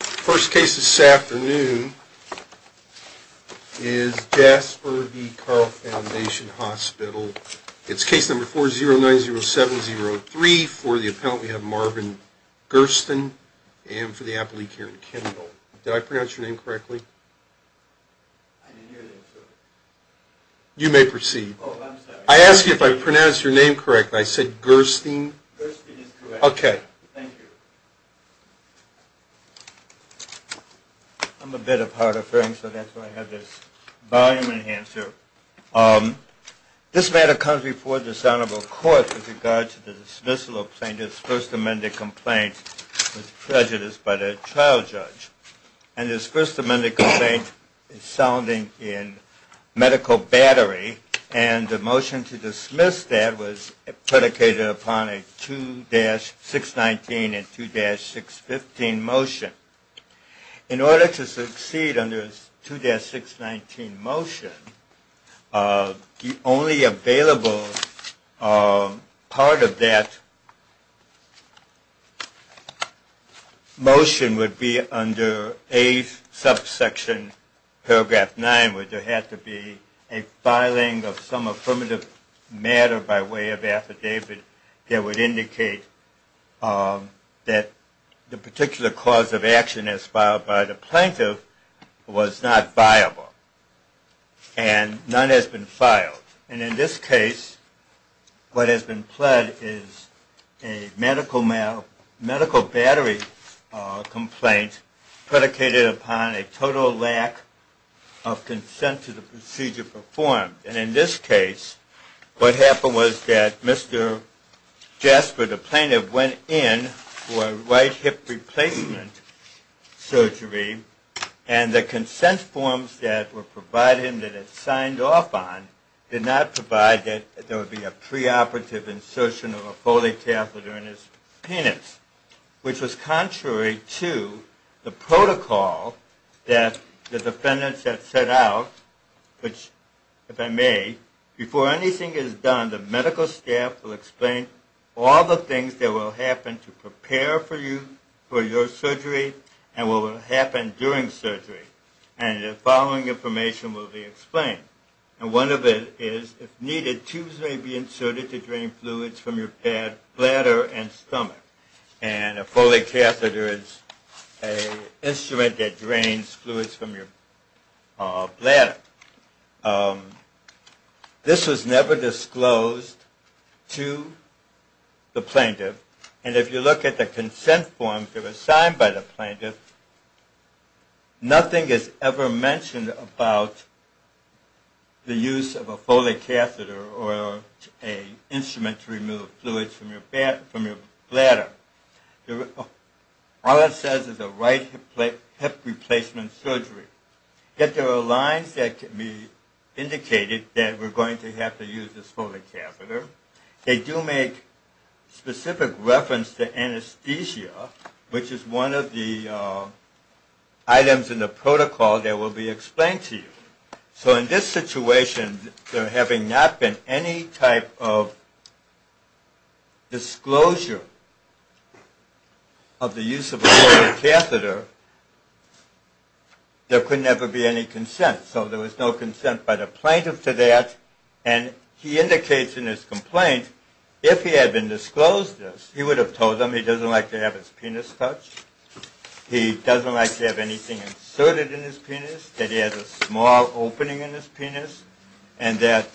The first case this afternoon is Jasper v. Carle Foundation Hospital. It's case number 4090703. For the appellant, we have Marvin Gersten. And for the appellee, Karen Kendall. Did I pronounce your name correctly? You may proceed. Oh, I'm sorry. I asked you if I pronounced your name correctly. I said Gersten. Gersten is correct. Okay. Thank you. I'm a bit of hard of hearing, so that's why I have this volume enhancer. This matter comes before this honorable court with regard to the dismissal of plaintiff's first amended complaint with prejudice by the trial judge. And his first amended complaint is sounding in medical battery. And the motion to dismiss that was predicated upon a 2-619 and 2-615 motion. In order to succeed under 2-619 motion, the only available part of that motion would be under a subsection, paragraph 9, where there had to be a filing of some affirmative matter by way of affidavit that would indicate that the particular cause of action as filed by the plaintiff was not viable. And none has been filed. And in this case, what has been pled is a medical battery complaint predicated upon a total lack of consent to the procedure performed. And in this case, what happened was that Mr. Jasper, the plaintiff, went in for right hip replacement surgery, and the consent forms that were provided him that he had signed off on did not provide that there would be a preoperative insertion of a Foley catheter in his penis, which was contrary to the protocol that the defendants had set out, which, if I may, before anything is done, the medical staff will explain all the things that will happen during surgery, and the following information will be explained. And one of it is, if needed, tubes may be inserted to drain fluids from your bladder and stomach. And a Foley catheter is an instrument that drains fluids from your bladder. This was never disclosed to the plaintiff. And if you look at the consent forms that were signed by the plaintiff, nothing is ever mentioned about the use of a Foley catheter or an instrument to remove fluids from your bladder. All it says is a right hip replacement surgery. Yet there are lines that can be indicated that we're going to have to use this Foley catheter. They do make specific reference to anesthesia, which is one of the items in the protocol that will be explained to you. So in this situation, there having not been any type of disclosure of the use of a Foley catheter, there could never be any consent. So there was no consent by the plaintiff to that, and he indicates in his complaint, if he had been disclosed this, he would have told them he doesn't like to have his penis touched, he doesn't like to have anything inserted in his penis, he doesn't like to have an opening in his penis, and that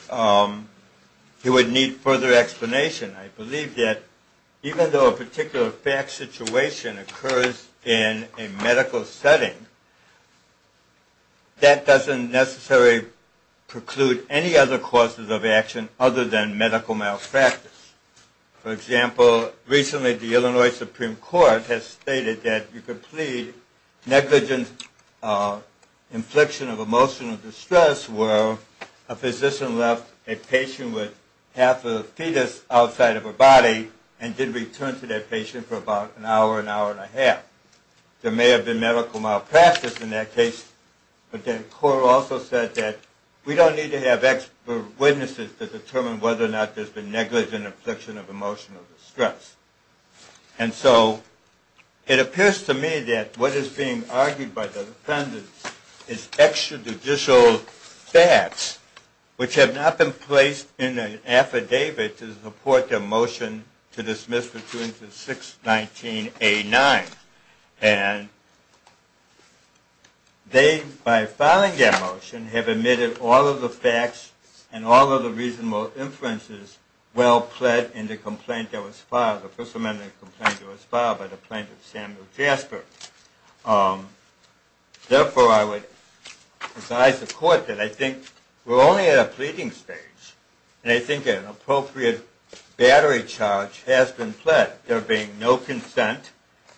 he would need further explanation. I believe that even though a particular fact situation occurs in a medical setting, that doesn't necessarily preclude any other causes of action other than medical malpractice. For example, recently the Illinois Supreme Court has stated that you could plead negligent infliction of emotional distress where a physician left a patient with half a fetus outside of her body and did return to that patient for about an hour, an hour and a half. There may have been medical malpractice in that case, but the court also said that we don't need to have expert witnesses to determine whether or not there's been negligent infliction of emotional distress. And so it appears to me that what is being argued by the defendants is extrajudicial facts which have not been placed in an affidavit to support their motion to dismiss between 6-19-89. And they, by filing their motion, have admitted all of the facts and all of the reasonable inferences well pled in the complaint that was filed, the first amendment complaint that was filed by the plaintiff Samuel Jasper. Therefore, I would advise the court that I think we're only at a pleading stage, and I think an appropriate battery charge has been pled, there being no consent.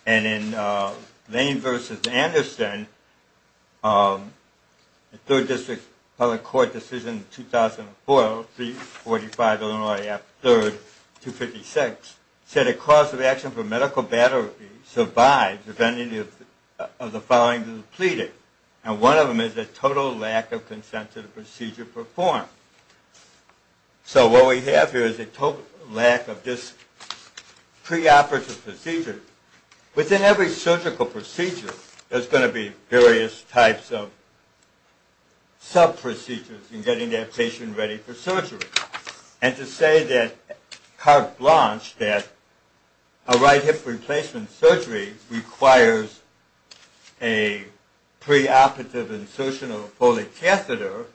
And in Lane v. Anderson, the Third District Public Court decision in 2004, 345 Illinois Ave. 3rd, 256, said a cause of action for medical battery survives if any of the following is pleaded. And one of them is a total lack of consent to the procedure performed. So what we have here is a total lack of this preoperative procedure. Within every surgical procedure, there's going to be various types of sub-procedures in getting that patient ready for surgery. And to say that carte blanche, that a right hip replacement surgery requires a preoperative insertion of a polycatheter,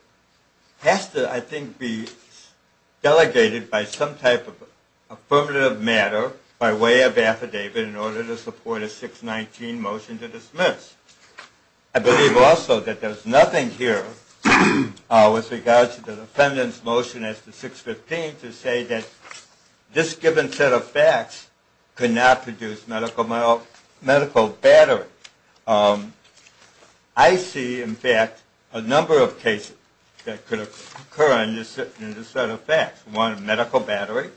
has to, I think, be delegated by some type of affirmative matter by way of affidavit in order to support a 619 motion to dismiss. I believe also that there's nothing here with regards to the defendant's motion as to 615 to say that this given set of facts could not produce medical battery. I see, in fact, a number of cases that could occur in this set of facts. One, medical battery.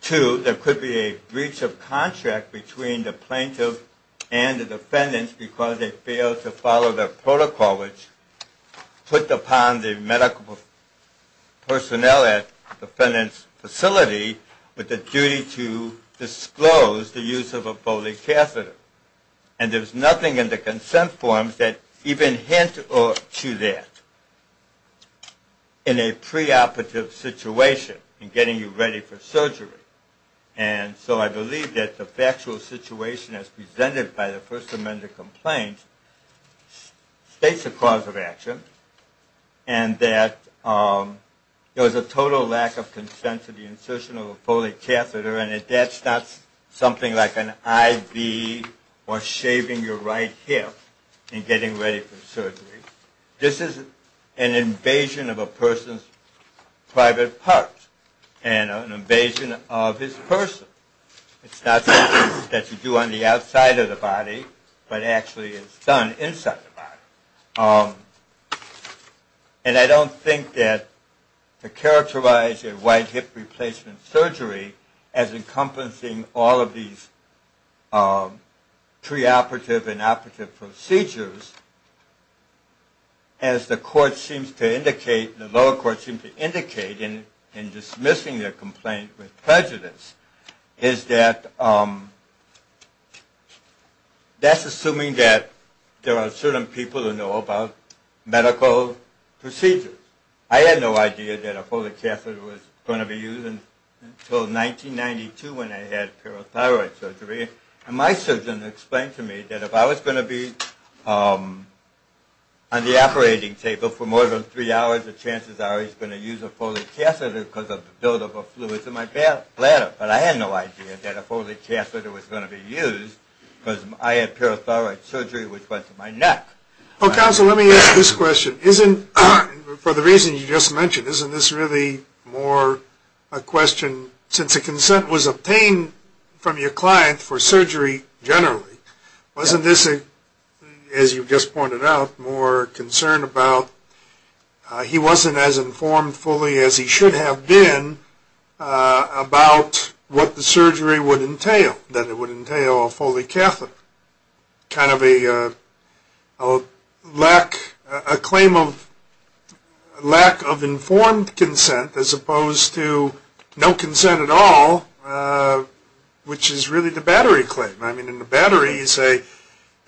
Two, there could be a breach of contract between the plaintiff and the defendant because they failed to follow the protocol which put upon the medical personnel at the defendant's facility with the duty to disclose the use of a polycatheter. And there's nothing in the consent forms that even hint to that in a preoperative situation in getting you ready for surgery. And so I believe that the factual situation as presented by the First Amendment complaint states the cause of action and that there was a total lack of consent to the insertion of a polycatheter and that that's not something like an IV or shaving your right hip in getting ready for surgery. This is an invasion of a person's private part and an invasion of his person. It's not something that you do on the outside of the body, but actually it's done inside the body. And I don't think that to characterize a right hip replacement surgery as encompassing all of these preoperative and operative procedures, as the lower court seems to indicate in dismissing their complaint with prejudice, is that that's assuming that there are certain people who know about medical procedures. I had no idea that a polycatheter was going to be used until 1992 when I had parathyroid surgery. And my surgeon explained to me that if I was going to be on the operating table for more than three hours, the chances are he's going to use a polycatheter because of the buildup of fluids in my bladder. But I had no idea that a polycatheter was going to be used because I had parathyroid surgery which went to my neck. Well, counsel, let me ask this question. For the reason you just mentioned, isn't this really more a question, since a consent was obtained from your client for surgery generally, wasn't this, as you just pointed out, more concerned about he wasn't as informed fully as he should have been about what the surgery would entail, that it would entail a polycatheter? Kind of a lack, a claim of lack of informed consent as opposed to no consent at all, which is really the battery claim. I mean, in the battery you say,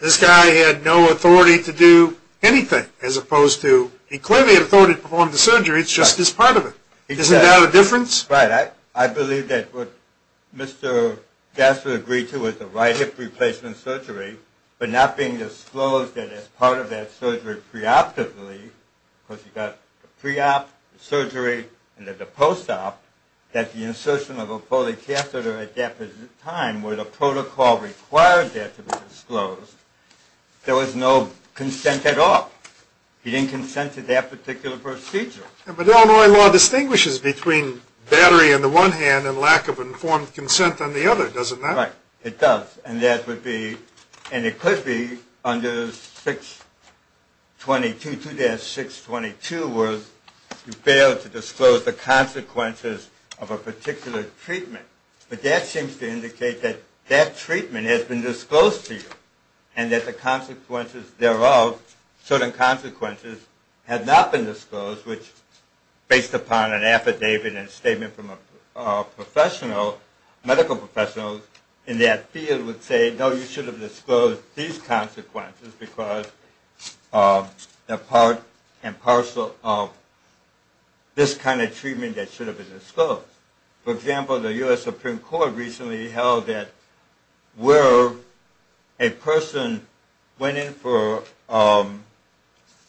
this guy had no authority to do anything, as opposed to he clearly had authority to perform the surgery, it's just this part of it. Isn't that a difference? Right. I believe that what Mr. Gasser agreed to was the right hip replacement surgery, but not being disclosed that it's part of that surgery pre-optically, because you've got the pre-op, the surgery, and then the post-op, that the insertion of a polycatheter at that time where the protocol required that to be disclosed, there was no consent at all. He didn't consent to that particular procedure. But Illinois law distinguishes between battery on the one hand and lack of informed consent on the other, doesn't that? Right. It does. And that would be, and it could be under 622, 2-622, where you fail to disclose the consequences of a particular treatment. But that seems to indicate that that treatment has been disclosed to you, and that the consequences thereof, certain consequences, have not been disclosed, which, based upon an affidavit and a statement from a professional, medical professional in that field would say, no, you should have disclosed these consequences because they're part and parcel of this kind of treatment that should have been disclosed. For example, the U.S. Supreme Court recently held that where a person went in for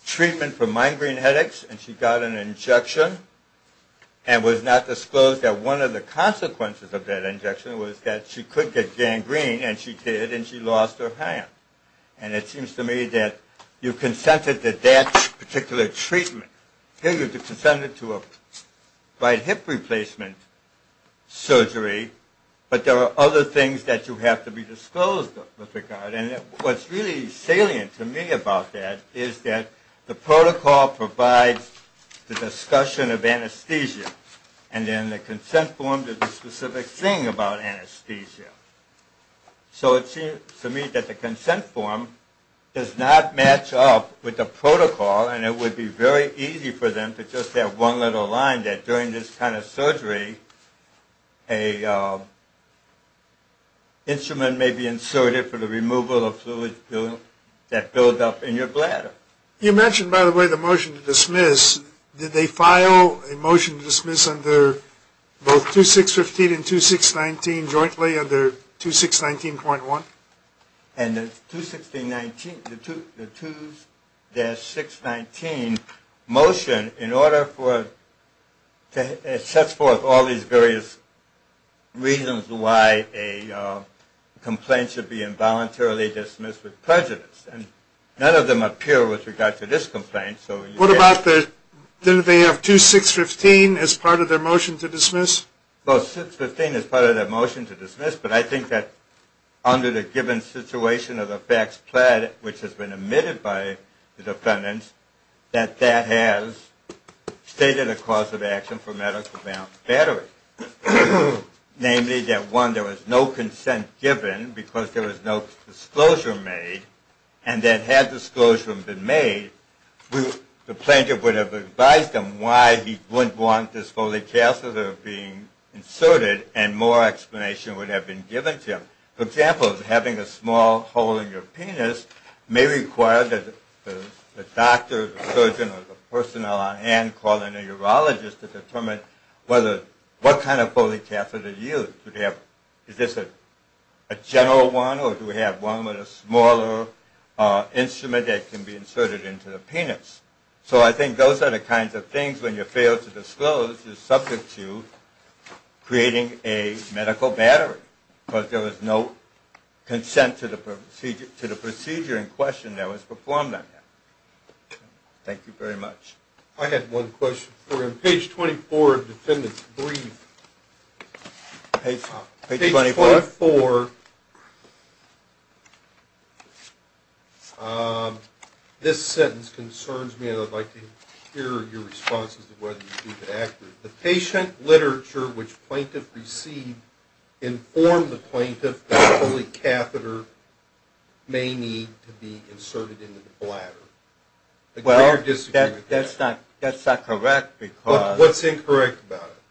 treatment for migraine headaches, and she got an injection and was not disclosed, that one of the consequences of that injection was that she could get gangrene, and she did, and she lost her hand. And it seems to me that you consented to that particular treatment. Here you consented to a right hip replacement surgery, but there are other things that you have to be disclosed with regard. And what's really salient to me about that is that the protocol provides the discussion of anesthesia, and then the consent form does the specific thing about anesthesia. So it seems to me that the consent form does not match up with the protocol, and it would be very easy for them to just have one little line that during this kind of surgery, a instrument may be inserted for the removal of fluid that builds up in your bladder. You mentioned, by the way, the motion to dismiss. Did they file a motion to dismiss under both 2615 and 2619 jointly under 2619.1? And the 2619, the 2-619 motion in order for, it sets forth all these various reasons why a complaint should be involuntarily dismissed with prejudice. And none of them appear with regard to this complaint. What about the, didn't they have 2615 as part of their motion to dismiss? Well, 2615 is part of their motion to dismiss, but I think that under the given situation of the facts pled, which has been admitted by the defendants, that that has stated a cause of action for medical-bound battery. Namely, that one, there was no consent given because there was no disclosure made, and that had disclosure been made, the plaintiff would have advised them why he wouldn't want this polycatheter being inserted and more explanation would have been given to him. For example, having a small hole in your penis may require that the doctor, surgeon, or the personnel on hand call in a urologist to determine what kind of polycatheter to use. Is this a general one, or do we have one with a smaller instrument that can be inserted into the penis? So I think those are the kinds of things when you fail to disclose you're subject to creating a medical battery because there was no consent to the procedure in question that was performed on you. Thank you very much. I had one question for you. Page 24 of the defendant's brief. Page 24? Page 24. This sentence concerns me, and I'd like to hear your responses to whether you think it's accurate. The patient literature which plaintiff received informed the plaintiff that polycatheter may need to be inserted into the bladder. Well, that's not correct. What's incorrect about it?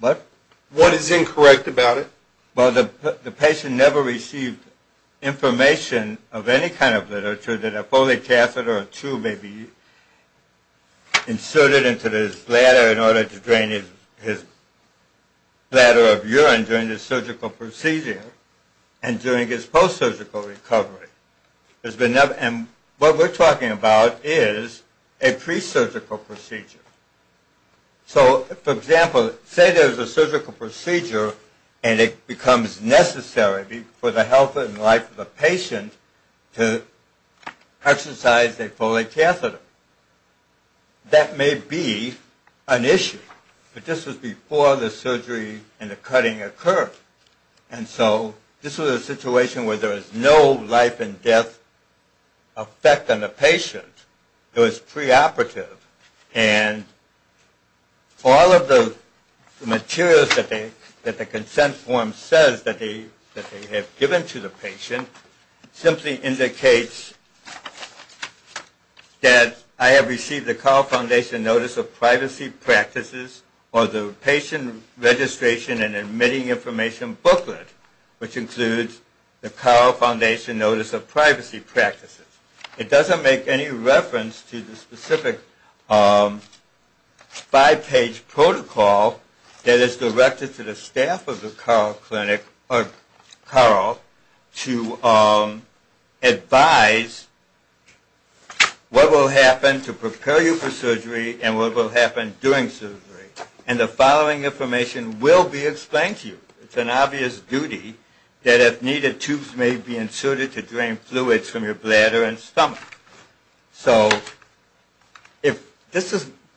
What? What is incorrect about it? Well, the patient never received information of any kind of literature that a polycatheter or two may be inserted into his bladder in order to drain his bladder of urine during the surgical procedure and during his post-surgical recovery. And what we're talking about is a pre-surgical procedure. So, for example, say there's a surgical procedure and it becomes necessary for the health and life of the patient to exercise a polycatheter. That may be an issue, but this was before the surgery and the cutting occurred. And so this was a situation where there was no life and death effect on the patient. It was preoperative. And all of the materials that the consent form says that they have given to the patient simply indicates that I have received the Carle Foundation Notice of Privacy Practices or the Patient Registration and Admitting Information booklet, which includes the Carle Foundation Notice of Privacy Practices. It doesn't make any reference to the specific five-page protocol that is directed to the staff of the Carle Clinic or Carle to advise what will happen to prepare you for surgery and what will happen during surgery. And the following information will be explained to you. It's an obvious duty that if needed, tubes may be inserted to drain fluids from your bladder and stomach. So,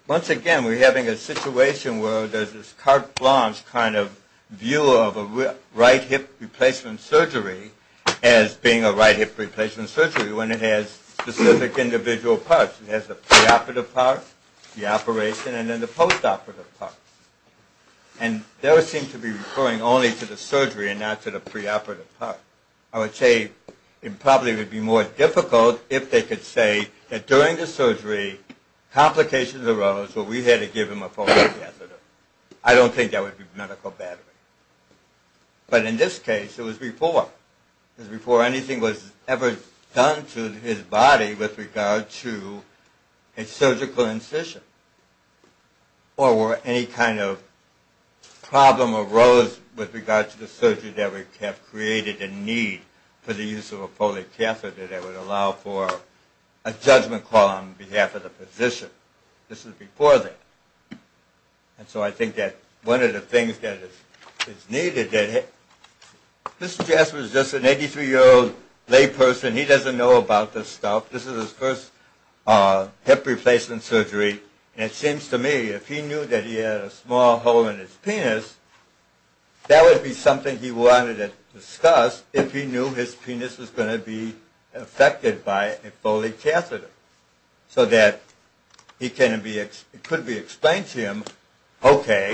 once again, we're having a situation where there's this carte blanche kind of view of a right hip replacement surgery as being a right hip replacement surgery when it has specific individual parts. It has the preoperative part, the operation, and then the postoperative part. And those seem to be referring only to the surgery and not to the preoperative part. I would say it probably would be more difficult if they could say that during the surgery complications arose where we had to give him a postoperative. I don't think that would be medical battery. But in this case, it was before. It was before anything was ever done to his body with regard to a surgical incision or where any kind of problem arose with regard to the surgery that would have created a need for the use of a polycatheter that would allow for a judgment call on behalf of the physician. This was before that. And so I think that one of the things that is needed, that Mr. Jasper is just an 83-year-old layperson. He doesn't know about this stuff. This is his first hip replacement surgery. And it seems to me if he knew that he had a small hole in his penis, that would be something he wanted to discuss if he knew his penis was going to be affected by a polycatheter so that it could be explained to him, okay,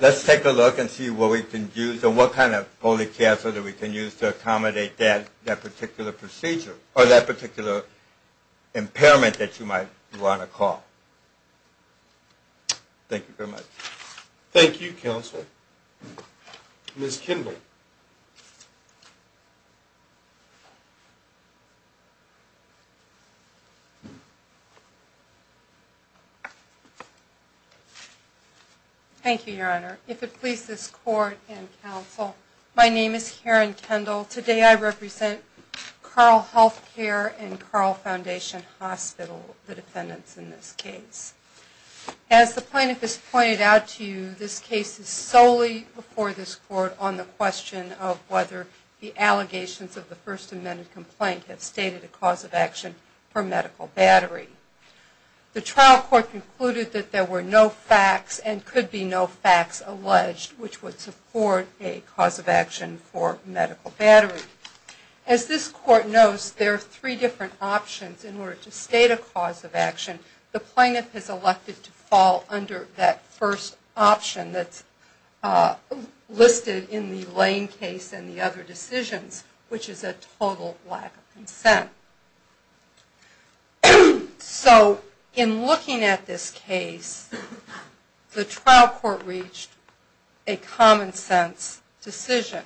let's take a look and see what we can use and what kind of polycatheter we can use to accommodate that particular procedure or that particular impairment that you might want to call. Thank you very much. Thank you, Counsel. Ms. Kendall. Thank you, Your Honor. If it please this Court and Counsel, my name is Karen Kendall. Today I represent Carl HealthCare and Carl Foundation Hospital, the defendants in this case. As the plaintiff has pointed out to you, this case is solely before this Court on the question of whether the allegations of the First Amendment complaint have stated a cause of action for medical battery. The trial court concluded that there were no facts and could be no facts alleged which would support a cause of action for medical battery. As this Court knows, there are three different options in order to state a cause of action. The plaintiff has elected to fall under that first option that's listed in the Lane case and the other decisions, which is a total lack of consent. So in looking at this case, the trial court reached a common sense decision.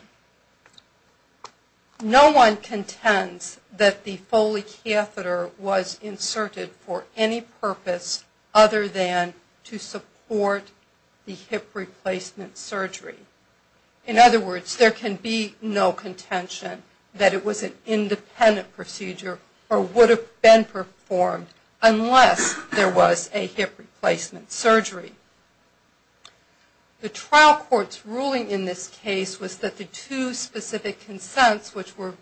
No one contends that the polycatheter was inserted for any purpose other than to support the hip replacement surgery. In other words, there can be no contention that it was an independent procedure or would have been performed unless there was a hip replacement surgery. The trial court's ruling in this case was that the two specific consents, which were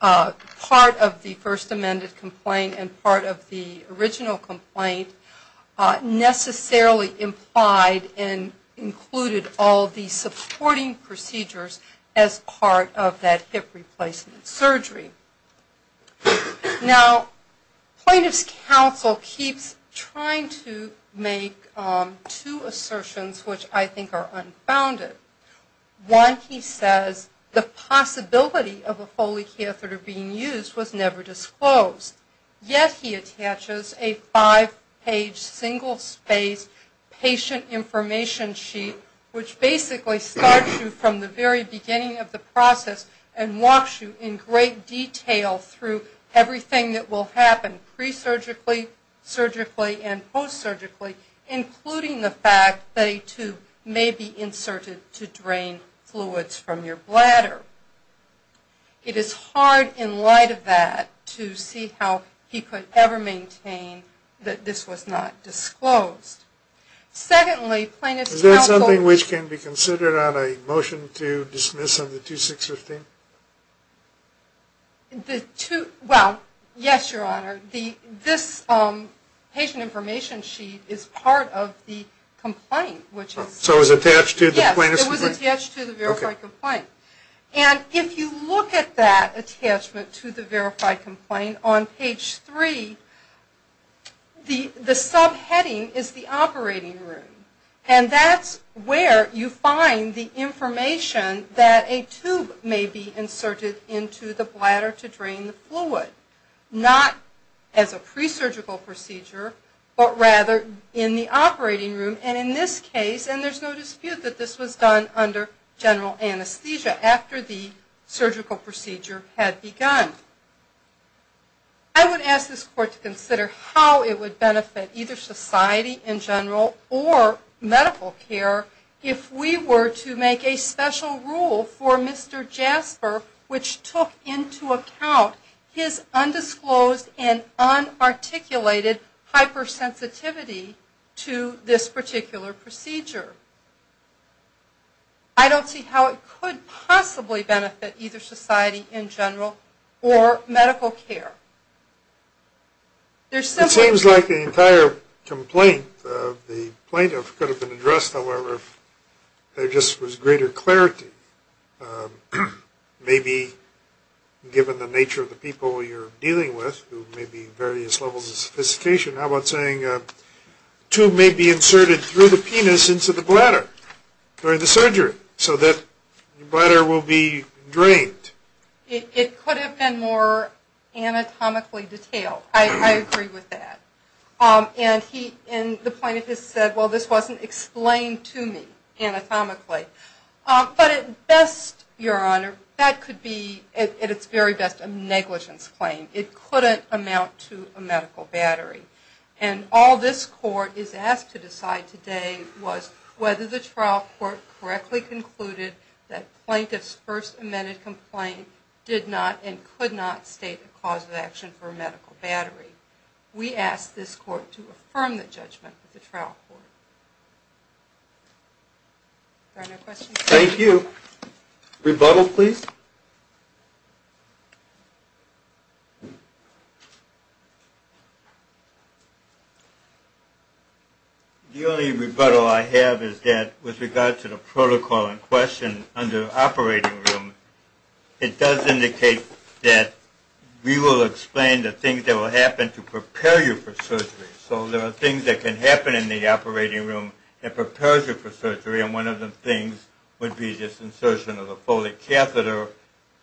part of the First Amendment complaint and part of the original complaint, necessarily implied and included all of the supporting procedures as part of that hip replacement surgery. Now, plaintiff's counsel keeps trying to make two assertions which I think are unfounded. One, he says, the possibility of a polycatheter being used was never disclosed. Yet he attaches a five-page, single-spaced patient information sheet, which basically starts you from the very beginning of the process and walks you in great detail through everything that will happen pre-surgically, surgically, and fluids from your bladder. It is hard, in light of that, to see how he could ever maintain that this was not disclosed. Secondly, plaintiff's counsel... Is there something which can be considered on a motion to dismiss under 2615? Well, yes, Your Honor. This patient information sheet is part of the complaint, which is... It was attached to the verified complaint. Okay. And if you look at that attachment to the verified complaint on page three, the subheading is the operating room. And that's where you find the information that a tube may be inserted into the bladder to drain the fluid, not as a pre-surgical procedure, but rather in the operating room. And in this case, and there's no dispute that this was done under general anesthesia after the surgical procedure had begun. I would ask this Court to consider how it would benefit either society in general or medical care if we were to make a special rule for Mr. Jasper, which took into account his undisclosed and unarticulated hypersensitivity to this particular procedure. I don't see how it could possibly benefit either society in general or medical care. There's simply... It seems like the entire complaint of the plaintiff could have been addressed, however, if there just was greater clarity. Maybe given the nature of the people you're dealing with, who may be various levels of sophistication, how about saying a tube may be inserted through the penis into the bladder during the surgery so that the bladder will be drained. It could have been more anatomically detailed. I agree with that. And the plaintiff has said, well, this wasn't explained to me anatomically. But at best, Your Honor, that could be, at its very best, a negligence claim. It couldn't amount to a medical battery. And all this Court is asked to decide today was whether the trial court correctly concluded that plaintiff's first amended complaint did not and could not state the cause of action for a medical battery. We ask this Court to affirm the judgment of the trial court. Are there no questions? Thank you. Rebuttal, please. The only rebuttal I have is that with regard to the protocol in question under operating room, it does indicate that we will explain the things that will happen to prepare you for surgery. So there are things that can happen in the operating room that prepares you for surgery. And one of the things would be this insertion of a folic catheter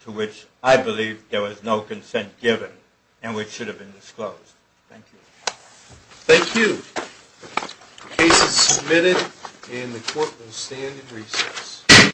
to which I believe there was no consent given and which should have been disclosed. Thank you. Thank you. The case is submitted and the Court will stand in recess.